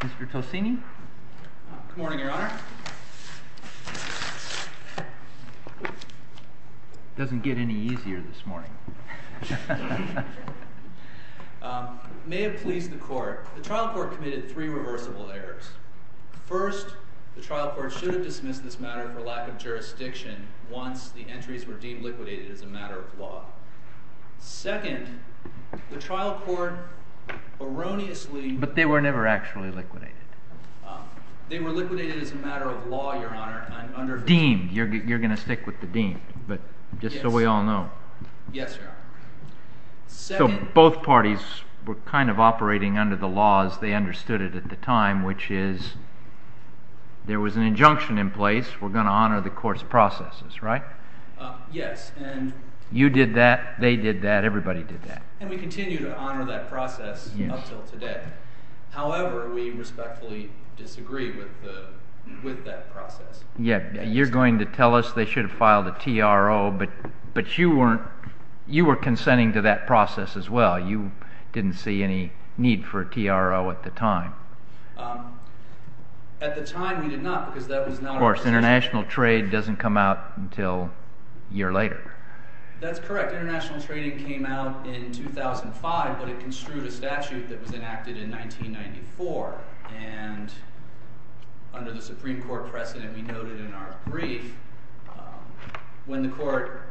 Mr. Tocini? Good morning, Your Honor. Doesn't get any easier this morning. May it please the Court, the trial court committed three reversible errors. First, the trial court should have dismissed this matter for lack of jurisdiction once the entries were deemed liquidated as a matter of law. Second, the trial court erroneously... But they were never actually liquidated. They were liquidated as a matter of law, Your Honor, under... Deemed. You're going to stick with the deemed, but just so we all know. Yes, Your Honor. So both parties were kind of operating under the laws, they understood it at the time, which is there was an injunction in place, we're going to honor the court's processes, right? Yes, and... You did that, they did that, everybody did that. And we continue to honor that process up until today. However, we respectfully disagree with that process. Yeah, you're going to tell us they should have filed a TRO, but you were consenting to that process as well. You didn't see any need for a TRO at the time. At the time, we did not, because that was not... Of course, international trade doesn't come out until a year later. That's correct. International trading came out in 2005, but it construed a statute that was enacted in 1994. And under the Supreme Court precedent we noted in our brief, when the court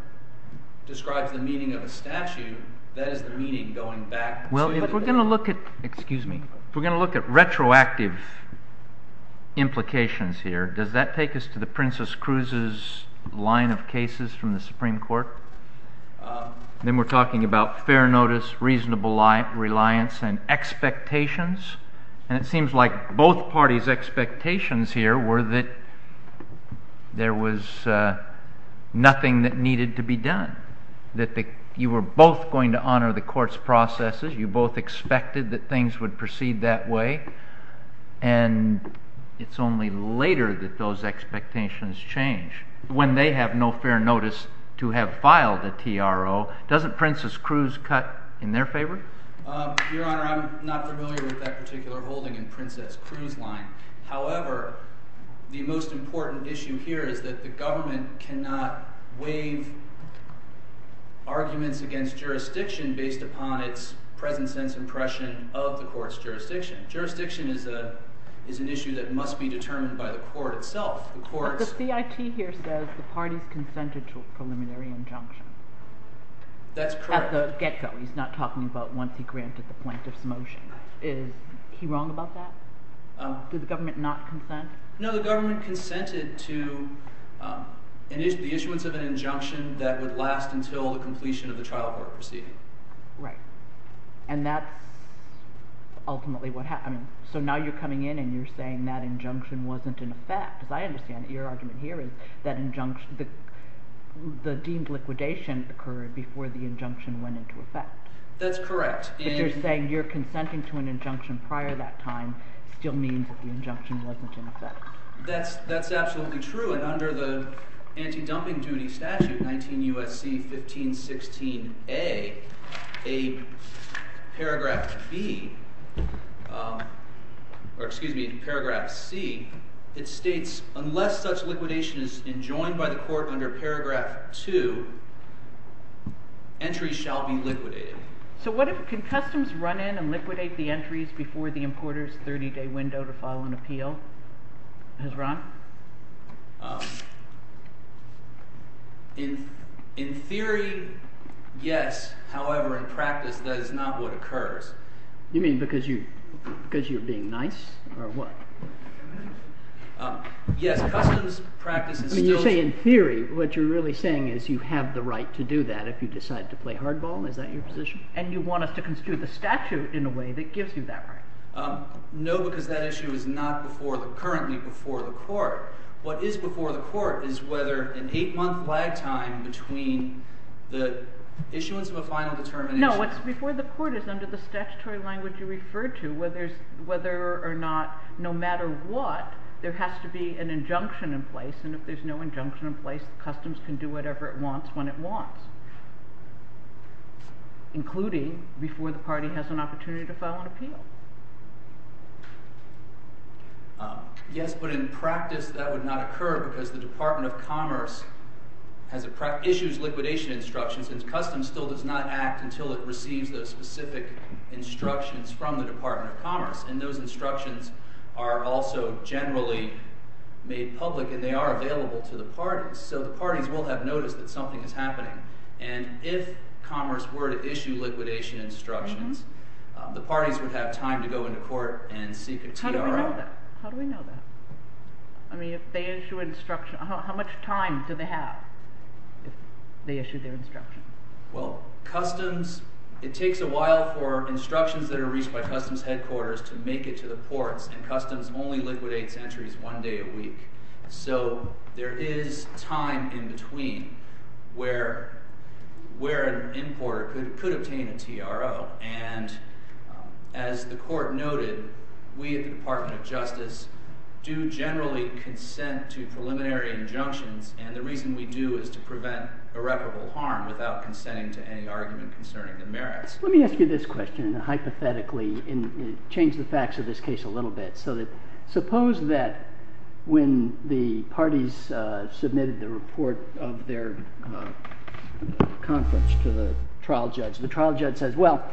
describes the meaning of a statute, that is the meaning going back... Well, if we're going to look at... Excuse me. ...implications here, does that take us to the Princess Cruz's line of cases from the Supreme Court? Then we're talking about fair notice, reasonable reliance, and expectations. And it seems like both parties' expectations here were that there was nothing that needed to be done. That you were both going to honor the court's processes, you both expected that things would proceed that way, and it's only later that those expectations change. When they have no fair notice to have filed a TRO, doesn't Princess Cruz cut in their favor? Your Honor, I'm not familiar with that particular holding in Princess Cruz's line. However, the most important issue here is that the government cannot waive arguments against jurisdiction based upon its present-sense impression of the court's jurisdiction. Jurisdiction is an issue that must be determined by the court itself. But the CIT here says the parties consented to a preliminary injunction. That's correct. At the get-go. He's not talking about once he granted the plaintiff's motion. Is he wrong about that? Did the government not consent? No, the government consented to the issuance of an injunction that would last until the completion of the trial court proceeding. Right. And that's ultimately what happened. So now you're coming in and you're saying that injunction wasn't in effect. As I understand it, your argument here is that the deemed liquidation occurred before the injunction went into effect. That's correct. But you're saying your consenting to an injunction prior that time still means that the injunction wasn't in effect. That's absolutely true. And under the anti-dumping duty statute, 19 U.S.C. 1516A, paragraph B, or excuse me, paragraph C, it states unless such liquidation is enjoined by the court under paragraph 2, entries shall be liquidated. So what if—can customs run in and liquidate the entries before the importer's 30-day window to file an appeal has run? In theory, yes. However, in practice, that is not what occurs. You mean because you're being nice or what? Yes. Customs practice is still— I mean you're saying in theory what you're really saying is you have the right to do that if you decide to play hardball. Is that your position? And you want us to constitute the statute in a way that gives you that right. No, because that issue is not before the—currently before the court. What is before the court is whether an eight-month lag time between the issuance of a final determination— No, what's before the court is under the statutory language you referred to, whether or not, no matter what, there has to be an injunction in place. And if there's no injunction in place, customs can do whatever it wants when it wants, including before the party has an opportunity to file an appeal. Yes, but in practice that would not occur because the Department of Commerce issues liquidation instructions, and customs still does not act until it receives those specific instructions from the Department of Commerce. And those instructions are also generally made public, and they are available to the parties. So the parties will have noticed that something is happening. And if Commerce were to issue liquidation instructions, the parties would have time to go into court and seek a TRO. How do we know that? How do we know that? I mean if they issue instructions—how much time do they have if they issue their instructions? Well, customs—it takes a while for instructions that are reached by customs headquarters to make it to the ports, and customs only liquidates entries one day a week. So there is time in between where an importer could obtain a TRO. And as the court noted, we at the Department of Justice do generally consent to preliminary injunctions, and the reason we do is to prevent irreparable harm without consenting to any argument concerning the merits. Let me ask you this question hypothetically and change the facts of this case a little bit. So suppose that when the parties submitted the report of their conflicts to the trial judge, the trial judge says, well,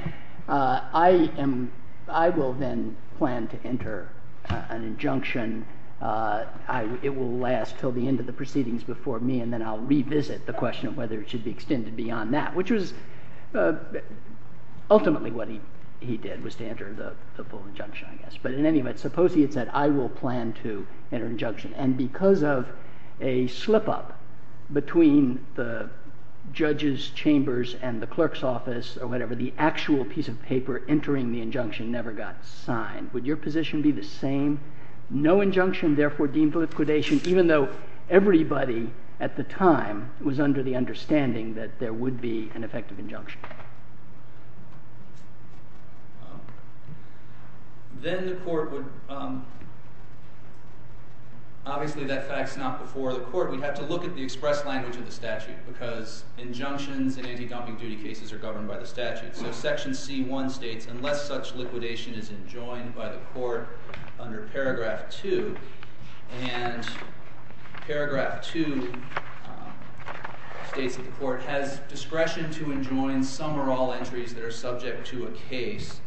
I will then plan to enter an injunction. It will last until the end of the proceedings before me, and then I'll revisit the question of whether it should be extended beyond that, which was ultimately what he did was to enter the full injunction, I guess. But in any event, suppose he had said, I will plan to enter an injunction. And because of a slip-up between the judge's chambers and the clerk's office or whatever, the actual piece of paper entering the injunction never got signed. Would your position be the same, no injunction, therefore deemed liquidation, even though everybody at the time was under the understanding that there would be an effective injunction? Then the court would – obviously that fact's not before the court. We'd have to look at the express language of the statute because injunctions and anti-dumping duty cases are governed by the statute. So Section C.1 states, unless such liquidation is enjoined by the court under Paragraph 2, and Paragraph 2 states that the court has discretion to enjoin some or all entries that are subject to a case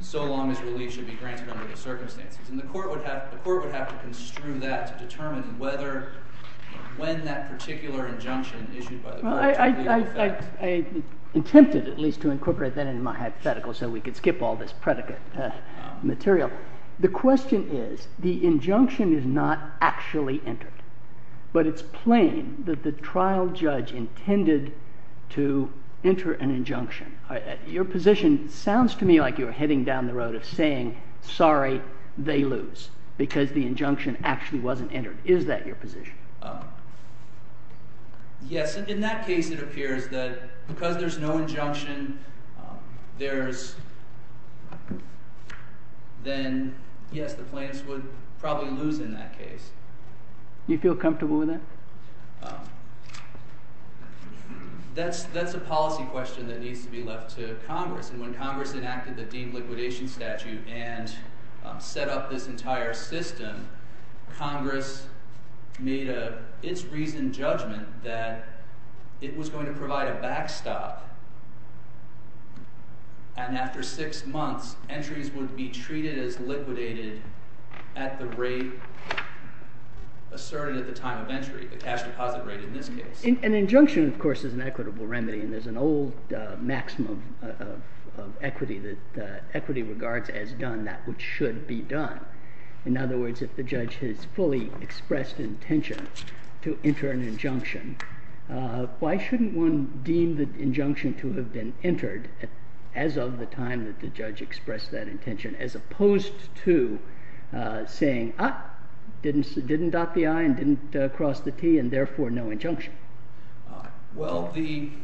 so long as relief should be granted under the circumstances. And the court would have to construe that to determine whether – when that particular injunction issued by the court would be in effect. I attempted at least to incorporate that into my hypothetical so we could skip all this predicate material. The question is the injunction is not actually entered, but it's plain that the trial judge intended to enter an injunction. Your position sounds to me like you're heading down the road of saying, sorry, they lose because the injunction actually wasn't entered. Is that your position? Yes. In that case, it appears that because there's no injunction, there's – then, yes, the plaintiffs would probably lose in that case. Do you feel comfortable with that? That's a policy question that needs to be left to Congress. And when Congress enacted the deemed liquidation statute and set up this entire system, Congress made its reasoned judgment that it was going to provide a backstop. And after six months, entries would be treated as liquidated at the rate asserted at the time of entry, the cash deposit rate in this case. An injunction, of course, is an equitable remedy, and there's an old maxim of equity that equity regards as done that which should be done. In other words, if the judge has fully expressed intention to enter an injunction, why shouldn't one deem the injunction to have been entered as of the time that the judge expressed that intention, as opposed to saying, ah, didn't dot the I and didn't cross the T, and therefore no injunction? Well, the –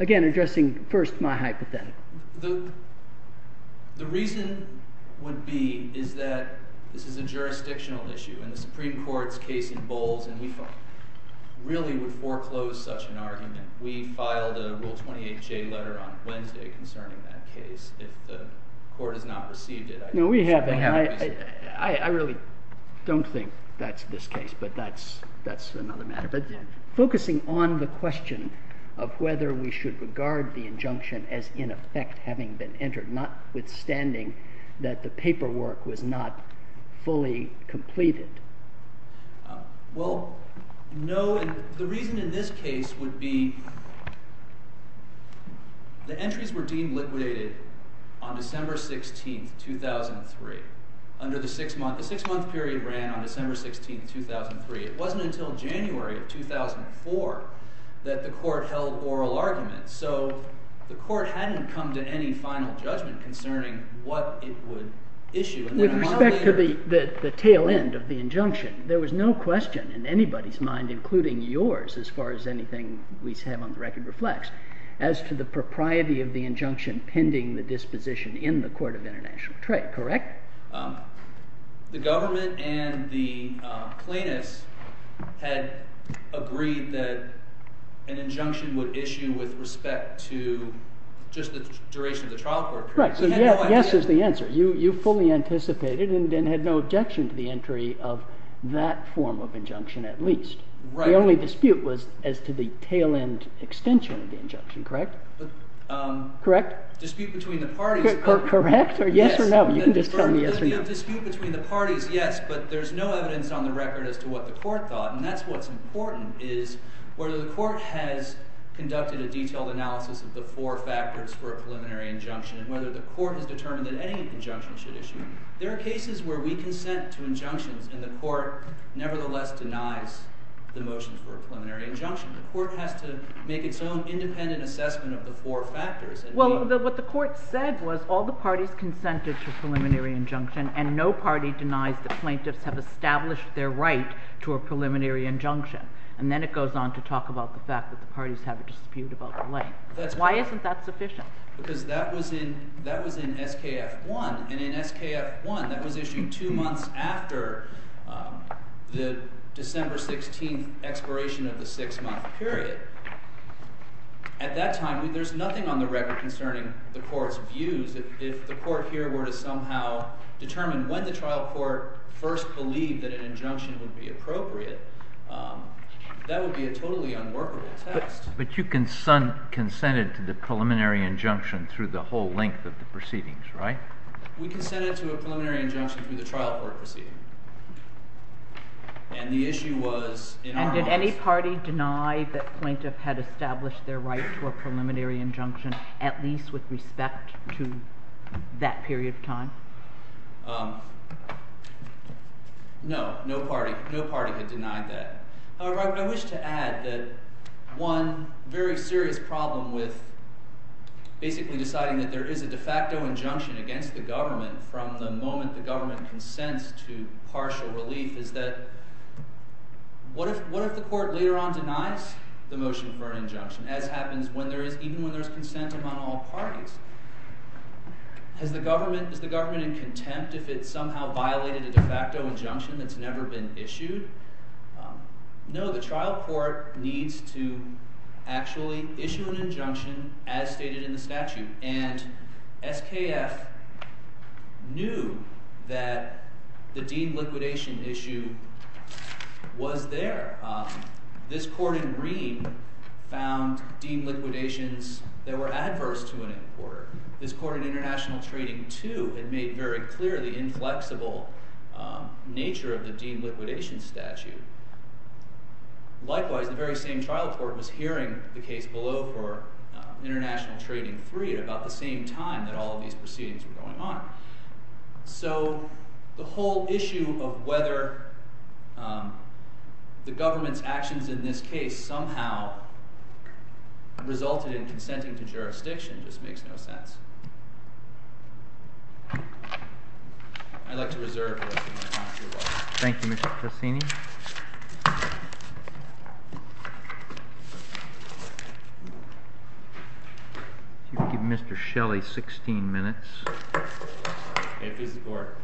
Again, addressing first my hypothetical. The reason would be is that this is a jurisdictional issue, and the Supreme Court's case in Bowles, and we really would foreclose such an argument. We filed a Rule 28J letter on Wednesday concerning that case. If the court has not received it, I don't think the Supreme Court has. No, we haven't. I really don't think that's this case, but that's another matter. But focusing on the question of whether we should regard the injunction as, in effect, having been entered, notwithstanding that the paperwork was not fully completed. Well, no. The reason in this case would be the entries were deemed liquidated on December 16, 2003. The six-month period ran on December 16, 2003. It wasn't until January of 2004 that the court held oral arguments. So the court hadn't come to any final judgment concerning what it would issue. With respect to the tail end of the injunction, there was no question in anybody's mind, including yours as far as anything we have on the record reflects, as to the propriety of the injunction pending the disposition in the court of international trade, correct? The government and the plaintiffs had agreed that an injunction would issue with respect to just the duration of the trial court period. Right. So yes is the answer. You fully anticipated and had no objection to the entry of that form of injunction at least. Right. The only dispute was as to the tail end extension of the injunction, correct? Correct. Dispute between the parties. Correct? Yes. Or yes or no? You can just tell me yes or no. The dispute between the parties, yes. But there's no evidence on the record as to what the court thought. And that's what's important is whether the court has conducted a detailed analysis of the four factors for a preliminary injunction and whether the court has determined that any injunction should issue. There are cases where we consent to injunctions and the court nevertheless denies the motions for a preliminary injunction. The court has to make its own independent assessment of the four factors. Well, what the court said was all the parties consented to a preliminary injunction and no party denies the plaintiffs have established their right to a preliminary injunction. And then it goes on to talk about the fact that the parties have a dispute about the length. Why isn't that sufficient? Because that was in SKF 1. And in SKF 1, that was issued two months after the December 16th expiration of the six-month period. At that time, there's nothing on the record concerning the court's views. If the court here were to somehow determine when the trial court first believed that an injunction would be appropriate, that would be a totally unworkable test. But you consented to the preliminary injunction through the whole length of the proceedings, right? We consented to a preliminary injunction through the trial court proceeding. And the issue was, in our minds— And did any party deny that plaintiff had established their right to a preliminary injunction, at least with respect to that period of time? No. No party. No party had denied that. However, I wish to add that one very serious problem with basically deciding that there is a de facto injunction against the government from the moment the government consents to partial relief is that what if the court later on denies the motion for an injunction, as happens when there is—even when there's consent among all parties? Has the government—is the government in contempt if it somehow violated a de facto injunction that's never been issued? No. The trial court needs to actually issue an injunction as stated in the statute. And SKF knew that the deemed liquidation issue was there. This court in Green found deemed liquidations that were adverse to an importer. This court in International Trading 2 had made very clear the inflexible nature of the deemed liquidation statute. Likewise, the very same trial court was hearing the case below for International Trading 3 at about the same time that all of these proceedings were going on. So the whole issue of whether the government's actions in this case somehow resulted in consenting to jurisdiction just makes no sense. I'd like to reserve the rest of my time. Thank you, Mr. Cassini. If you could give Mr. Shelley 16 minutes. May it please the Court.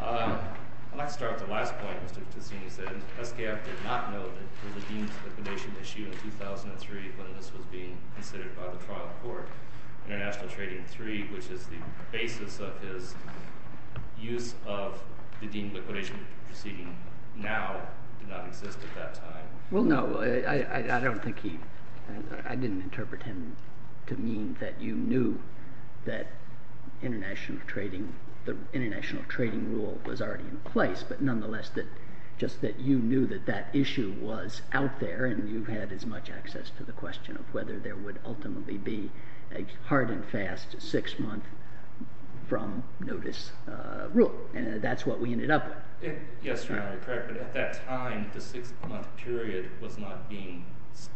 I'd like to start with the last point Mr. Cassini said. SKF did not know that there was a deemed liquidation issue in 2003 when this was being considered by the trial court. International Trading 3, which is the basis of his use of the deemed liquidation proceeding, now did not exist at that time. Well, no. I don't think he – I didn't interpret him to mean that you knew that international trading – the international trading rule was already in place. But nonetheless, just that you knew that that issue was out there, and you had as much access to the question of whether there would ultimately be a hard and fast six-month from notice rule. And that's what we ended up with. Yes, Your Honor. You're correct. But at that time, the six-month period was not being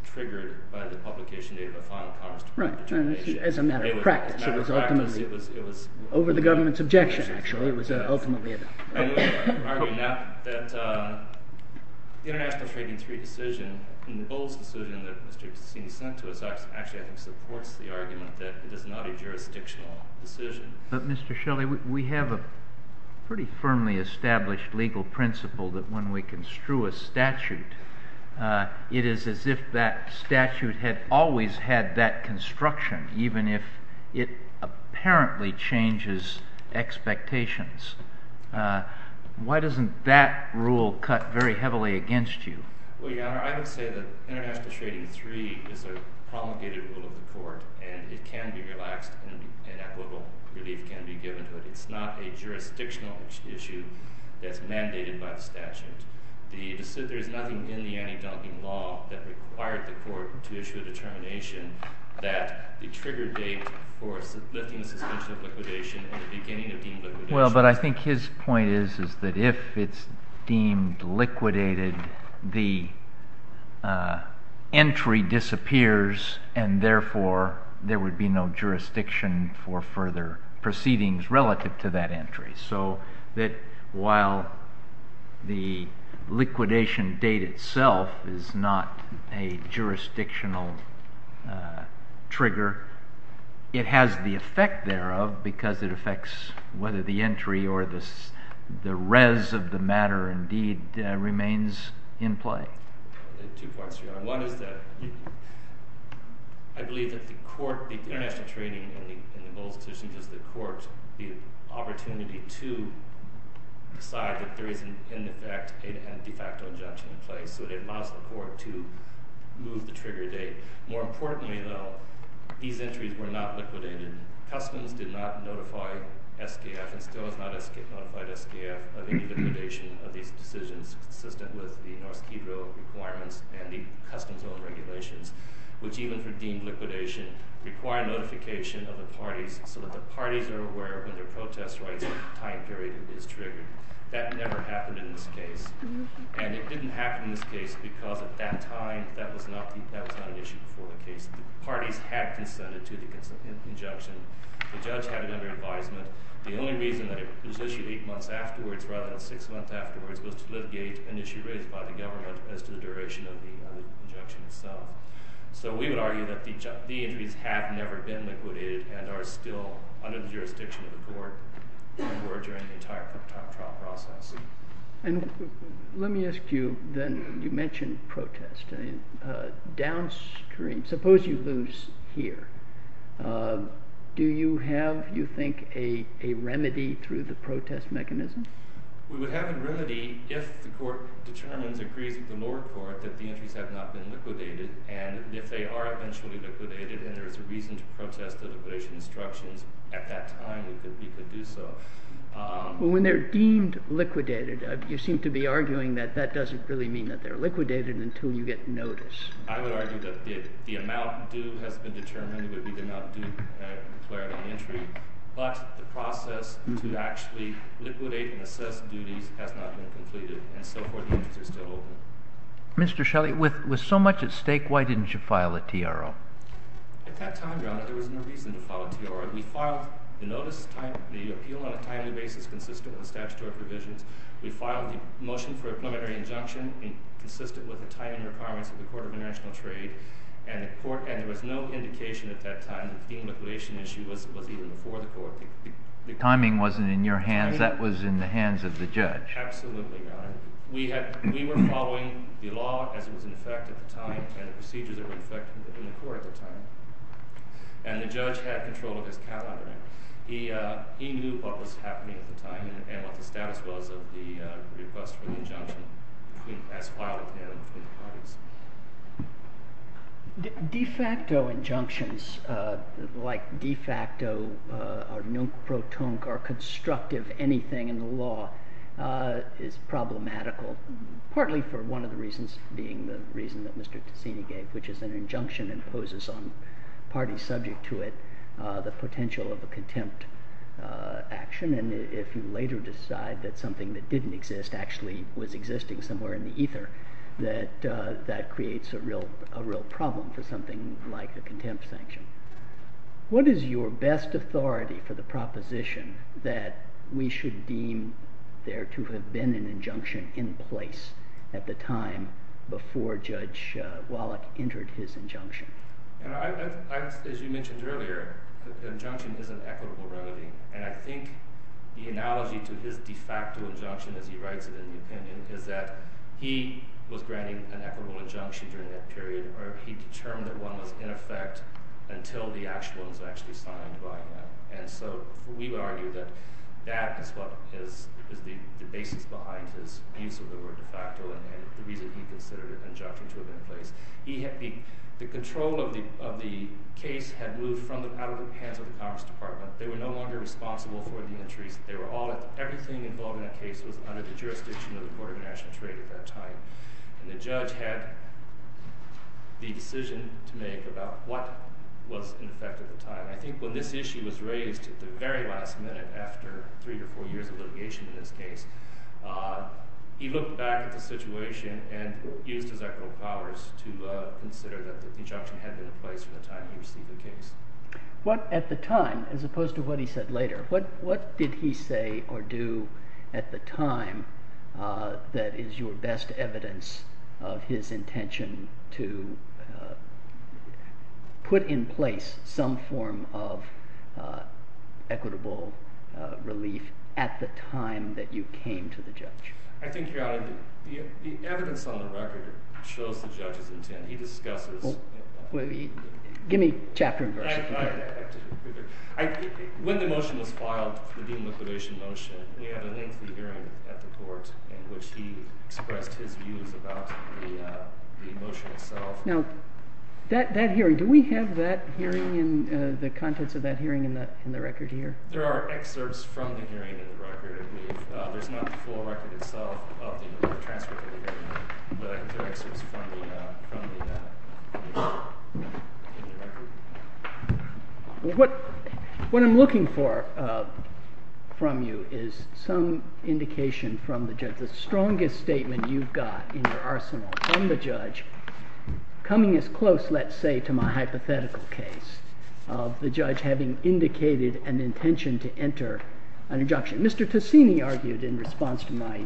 triggered by the publication date of a final commerce determination. Right. As a matter of practice. As a matter of practice, it was – Over the government's objection, actually. I would argue now that the international trading 3 decision and the Bowles decision that Mr. Cassini sent to us actually, I think, supports the argument that it is not a jurisdictional decision. But, Mr. Shelley, we have a pretty firmly established legal principle that when we construe a statute, it is as if that statute had always had that construction, even if it apparently changes expectations. Why doesn't that rule cut very heavily against you? Well, Your Honor, I would say that international trading 3 is a promulgated rule of the court. And it can be relaxed, and equitable relief can be given to it. It's not a jurisdictional issue that's mandated by the statute. There is nothing in the anti-dunking law that required the court to issue a determination that the trigger date for lifting the suspension of liquidation at the beginning of deemed liquidation— Well, but I think his point is that if it's deemed liquidated, the entry disappears, and therefore there would be no jurisdiction for further proceedings relative to that entry. So that while the liquidation date itself is not a jurisdictional trigger, it has the effect thereof because it affects whether the entry or the res of the matter indeed remains in play. Two points, Your Honor. One is that I believe that the court—the international trading in the Bowles decision gives the court the opportunity to decide that there is, in effect, a de facto injunction in place. So it allows the court to move the trigger date. More importantly, though, these entries were not liquidated. Customs did not notify SKF, and still has not notified SKF, of any liquidation of these decisions consistent with the Norse Quidro requirements and the Customs Owned Regulations, which even for deemed liquidation require notification of the parties so that the parties are aware when their protest rights time period is triggered. That never happened in this case. And it didn't happen in this case because at that time, that was not an issue before the case. The parties had consented to the injunction. The judge had another advisement. The only reason that it was issued eight months afterwards rather than six months afterwards was to litigate an issue raised by the government as to the duration of the injunction itself. So we would argue that the entries have never been liquidated and are still under the jurisdiction of the court for during the entire trial process. And let me ask you, then, you mentioned protest. Downstream, suppose you lose here. Do you have, you think, a remedy through the protest mechanism? We would have a remedy if the court determines, agrees with the lower court, that the entries have not been liquidated. And if they are eventually liquidated and there is a reason to protest the liquidation instructions at that time, we could do so. Well, when they're deemed liquidated, you seem to be arguing that that doesn't really mean that they're liquidated until you get notice. I would argue that the amount due has been determined. It would be the amount declared on the entry. But the process to actually liquidate and assess duties has not been completed. And so far, the entries are still open. Mr. Shelley, with so much at stake, why didn't you file a TRO? At that time, Your Honor, there was no reason to file a TRO. We filed the notice, the appeal on a timely basis consistent with statutory provisions. We filed the motion for a preliminary injunction consistent with the timing requirements of the Court of International Trade. And there was no indication at that time that the liquidation issue was even before the court. The timing wasn't in your hands. That was in the hands of the judge. Absolutely, Your Honor. We were following the law as it was in effect at the time and the procedures that were in effect in the court at the time. And the judge had control of his calendar. He knew what was happening at the time and what the status was of the request for the injunction as filed at the end between the parties. De facto injunctions like de facto or non-crotonque or constructive anything in the law is problematical, partly for one of the reasons being the reason that Mr. Ticini gave, which is an injunction and imposes on parties subject to it the potential of a contempt action. And if you later decide that something that didn't exist actually was existing somewhere in the ether, that creates a real problem for something like a contempt sanction. What is your best authority for the proposition that we should deem there to have been an injunction in place at the time before Judge Wallach entered his injunction? As you mentioned earlier, injunction is an equitable remedy. And I think the analogy to his de facto injunction as he writes it in the opinion is that he was granting an equitable injunction during that period or he determined that one was in effect until the actual one was actually signed by him. And so we would argue that that is the basis behind his use of the word de facto and the reason he considered injunction to have been in place. The control of the case had moved out of the hands of the Commerce Department. They were no longer responsible for the entries. Everything involved in that case was under the jurisdiction of the Court of National Trade at that time. And the judge had the decision to make about what was in effect at the time. I think when this issue was raised at the very last minute after three to four years of litigation in this case, he looked back at the situation and used his equitable powers to consider that the injunction had been in place from the time he received the case. At the time, as opposed to what he said later, what did he say or do at the time that is your best evidence of his intention to put in place some form of equitable relief at the time that you came to the judge? I think, Your Honor, the evidence on the record shows the judge's intent. Give me chapter and version. When the motion was filed, the Dean of the Coalition motion, we had a lengthy hearing at the court in which he expressed his views about the motion itself. Now, that hearing, do we have the contents of that hearing in the record here? There are excerpts from the hearing in the record. There's not the full record itself of the transcript of the hearing, but I can throw excerpts from the hearing in the record. What I'm looking for from you is some indication from the judge, the strongest statement you've got in your arsenal from the judge, coming as close, let's say, to my hypothetical case of the judge having indicated an intention to enter an injunction. Mr. Tessini argued in response to my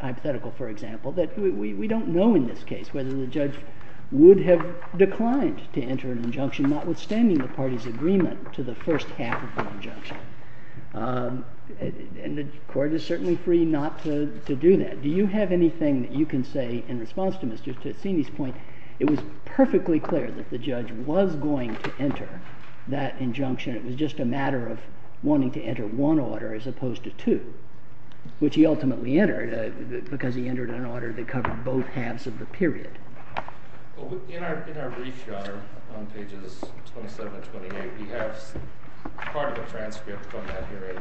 hypothetical, for example, that we don't know in this case whether the judge would have declined to enter an injunction, notwithstanding the party's agreement to the first half of the injunction. And the court is certainly free not to do that. Do you have anything that you can say in response to Mr. Tessini's point? It was perfectly clear that the judge was going to enter that injunction. It was just a matter of wanting to enter one order as opposed to two, which he ultimately entered, because he entered an order that covered both halves of the period. In our brief, Your Honor, on pages 27 and 28, we have part of a transcript from that hearing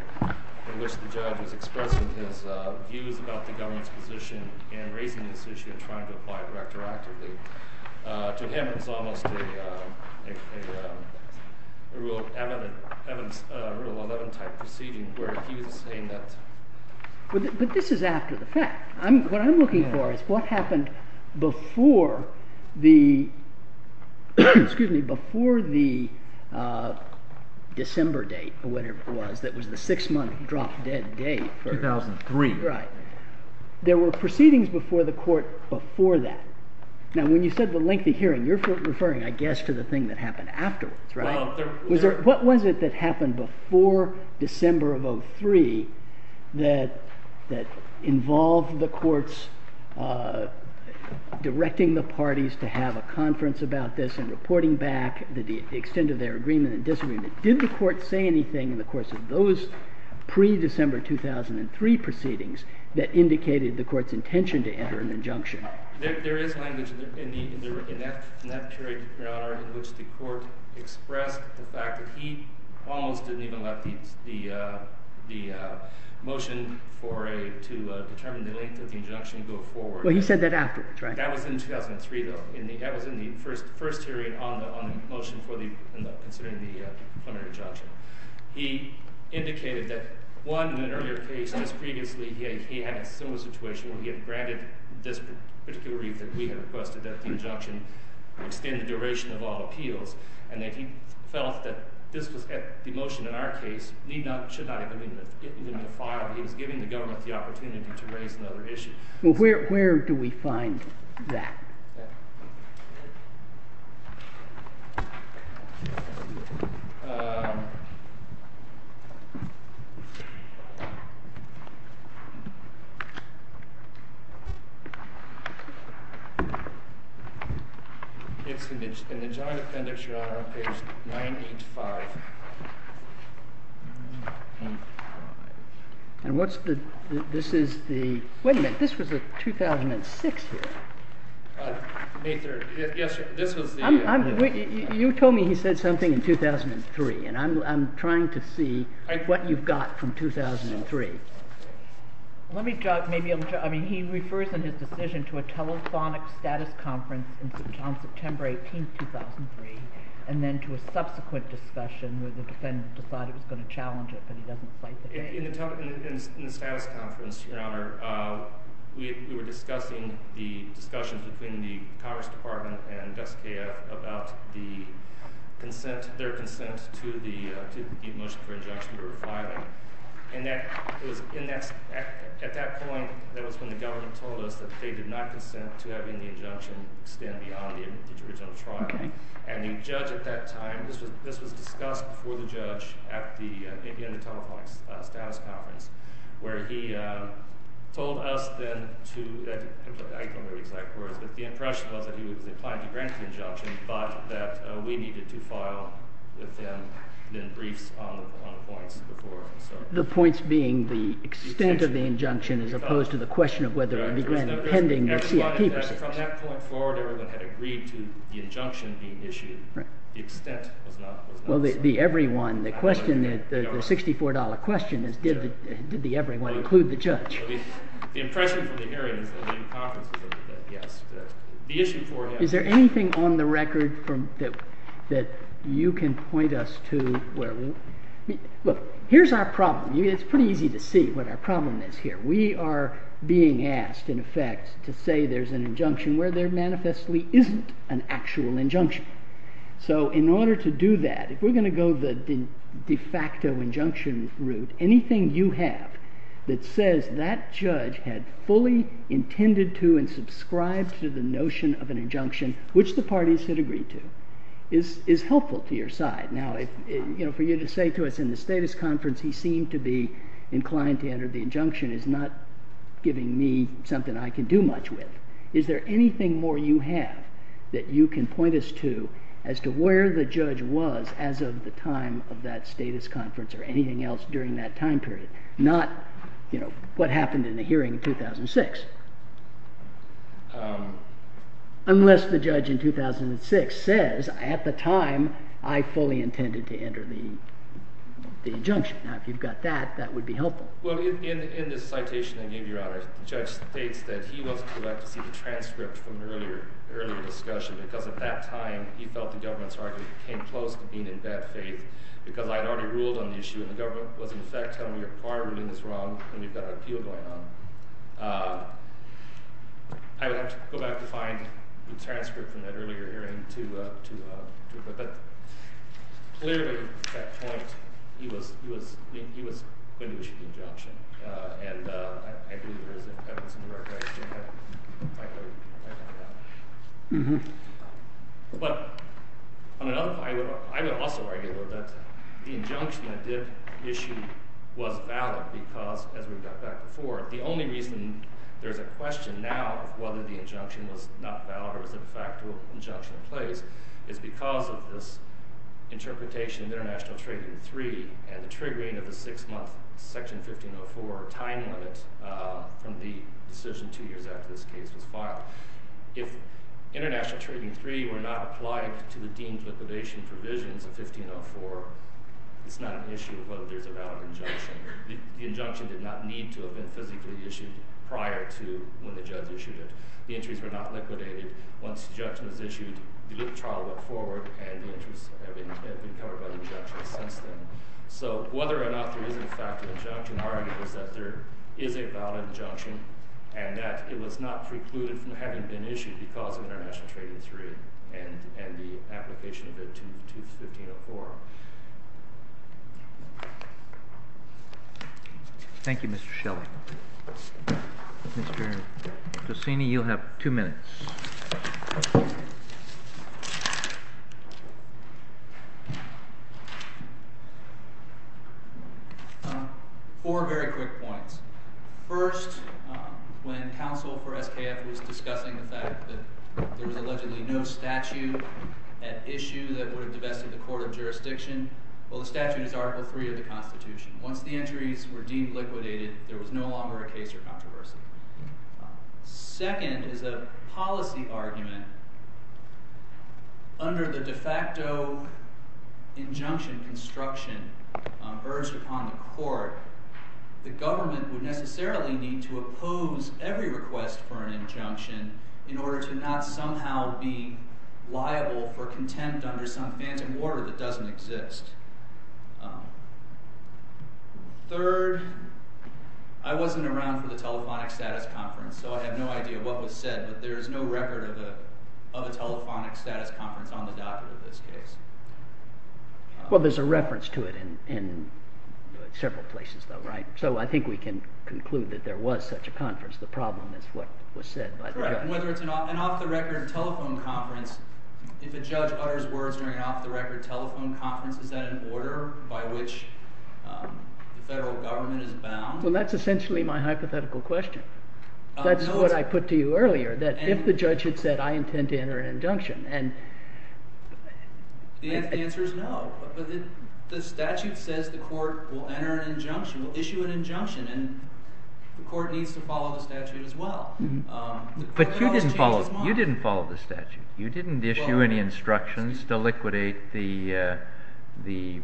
in which the judge was expressing his views about the government's position in raising this issue and trying to apply it retroactively. To him, it's almost a Rule of Eleven-type proceeding where he was saying that. But this is after the fact. What I'm looking for is what happened before the December date, or whatever it was, that was the six-month drop-dead date. 2003. Right. There were proceedings before the court before that. Now, when you said the lengthy hearing, you're referring, I guess, to the thing that happened afterwards, right? What was it that happened before December of 2003 that involved the courts directing the parties to have a conference about this and reporting back the extent of their agreement and disagreement? Did the court say anything in the course of those pre-December 2003 proceedings that indicated the court's intention to enter an injunction? There is language in that period, Your Honor, in which the court expressed the fact that he almost didn't even let the motion to determine the length of the injunction go forward. Well, he said that afterwards, right? That was in 2003, though. That was in the first hearing on the motion considering the preliminary injunction. He indicated that, one, in an earlier case, just previously, he had a similar situation where he had granted this particular reason that we had requested, that the injunction extend the duration of all appeals, and that he felt that the motion in our case should not even have been filed. He was giving the government the opportunity to raise another issue. Well, where do we find that? It's in the joint appendix, Your Honor, on page 985. And what's the, this is the, wait a minute, this was a 2006 hearing. May 3rd, yes, this was the. You told me he said something in 2003, and I'm trying to see what you've got from 2003. Let me, I mean, he refers in his decision to a telephonic status conference in St. John's, September 18th, 2003, and then to a subsequent discussion where the defendant decided he was going to challenge it, but he doesn't cite the date. In the status conference, Your Honor, we were discussing the discussions between the Congress Department and SKF about the consent, their consent to the motion for injunction we were filing. And that, it was in that, at that point, that was when the government told us that they did not consent to having the injunction extend beyond the original trial. And the judge at that time, this was discussed before the judge at the, again, the telephonic status conference, where he told us then to, I don't know the exact words, but the impression was that he was inclined to grant the injunction, but that we needed to file with them then briefs on points before. The points being the extent of the injunction as opposed to the question of whether it would be granted pending the CIP. From that point forward, everyone had agreed to the injunction being issued. The extent was not, was not set. Well, the everyone, the question, the $64 question is, did the everyone include the judge? The impression from the hearings and the conference was that, yes, the issue for him. Is there anything on the record from, that, that you can point us to where we, look, here's our problem. It's pretty easy to see what our problem is here. We are being asked, in effect, to say there's an injunction where there manifestly isn't an actual injunction. So, in order to do that, if we're going to go the de facto injunction route, anything you have that says that judge had fully intended to and subscribed to the notion of an injunction, which the parties had agreed to, is, is helpful to your side. Now, if, you know, for you to say to us in the status conference he seemed to be inclined to enter the injunction is not giving me something I can do much with. Is there anything more you have that you can point us to as to where the judge was as of the time of that status conference or anything else during that time period? Not, you know, what happened in the hearing in 2006. Unless the judge in 2006 says, at the time, I fully intended to enter the, the injunction. Now, if you've got that, that would be helpful. Well, in, in this citation I gave you, Your Honor, the judge states that he wants to go back to see the transcript from an earlier, earlier discussion. Because at that time, he felt the government's argument came close to being in bad faith. Because I'd already ruled on the issue, and the government was, in effect, telling me our ruling is wrong, and we've got an appeal going on. I would have to go back to find the transcript from that earlier hearing to, to, to, but clearly, at that point, he was, he was, he was going to issue the injunction. Uh, and, uh, I, I believe there is an evidence in the record. I, I heard, I heard that. Mm-hmm. But, on another, I would, I would also argue that the injunction that did issue was valid because, as we got back before, the only reason there's a question now of whether the injunction was not valid or was a de facto injunction in place is because of this interpretation of International Trading 3 and the triggering of the six-month Section 1504 time limit, uh, from the decision two years after this case was filed. If International Trading 3 were not applied to the deemed liquidation provisions of 1504, it's not an issue of whether there's a valid injunction. The, the injunction did not need to have been physically issued prior to when the judge issued it. The entries were not liquidated. Once the injunction was issued, the loop trial went forward, and the entries have been, have been covered by the injunction since then. So, whether or not there is a de facto injunction argues that there is a valid injunction and that it was not precluded from having been issued because of International Trading 3 and, and the application of it to, to 1504. Thank you, Mr. Shelley. Mr. Giussini, you'll have two minutes. Four very quick points. First, when counsel for SKF was discussing the fact that there was allegedly no statute at issue that would have divested the court of jurisdiction, well, the statute is Article 3 of the Constitution. Once the entries were deemed liquidated, there was no longer a case or controversy. Second is that a policy argument under the de facto injunction construction urged upon the court, the government would necessarily need to oppose every request for an injunction in order to not somehow be liable for contempt under some phantom order that doesn't exist. Third, I wasn't around for the telephonic status conference, so I have no idea what was said, but there is no record of a, of a telephonic status conference on the docket in this case. Well, there's a reference to it in, in several places though, right? So, I think we can conclude that there was such a conference. The problem is what was said by the judge. An off-the-record telephone conference, if a judge utters words during an off-the-record telephone conference, is that an order by which the federal government is bound? Well, that's essentially my hypothetical question. That's what I put to you earlier, that if the judge had said, I intend to enter an injunction, and... The answer is no, but the statute says the court will enter an injunction, will issue an injunction, and the court needs to follow the statute as well. But you didn't follow, you didn't follow the statute. You didn't issue any instructions to liquidate the, the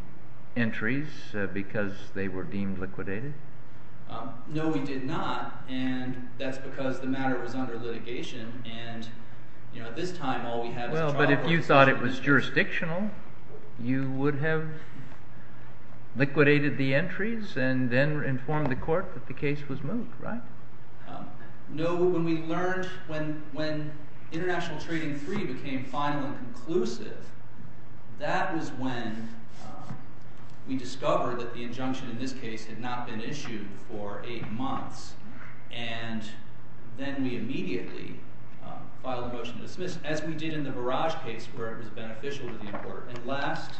entries because they were deemed liquidated? No, we did not, and that's because the matter was under litigation, and, you know, at this time, all we have is a trial. Well, but if you thought it was jurisdictional, you would have liquidated the entries and then informed the court that the case was moved, right? No, when we learned, when, when International Trading 3 became final and conclusive, that was when we discovered that the injunction in this case had not been issued for eight months. And then we immediately filed a motion to dismiss, as we did in the Barrage case, where it was beneficial to the court. And last...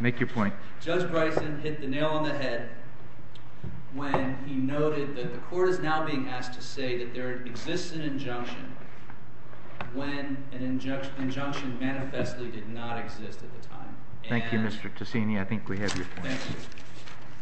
Make your point. Judge Bryson hit the nail on the head when he noted that the court is now being asked to say that there exists an injunction when an injunction manifestly did not exist at the time. Thank you, Mr. Taccini. I think we have your point. Thank you.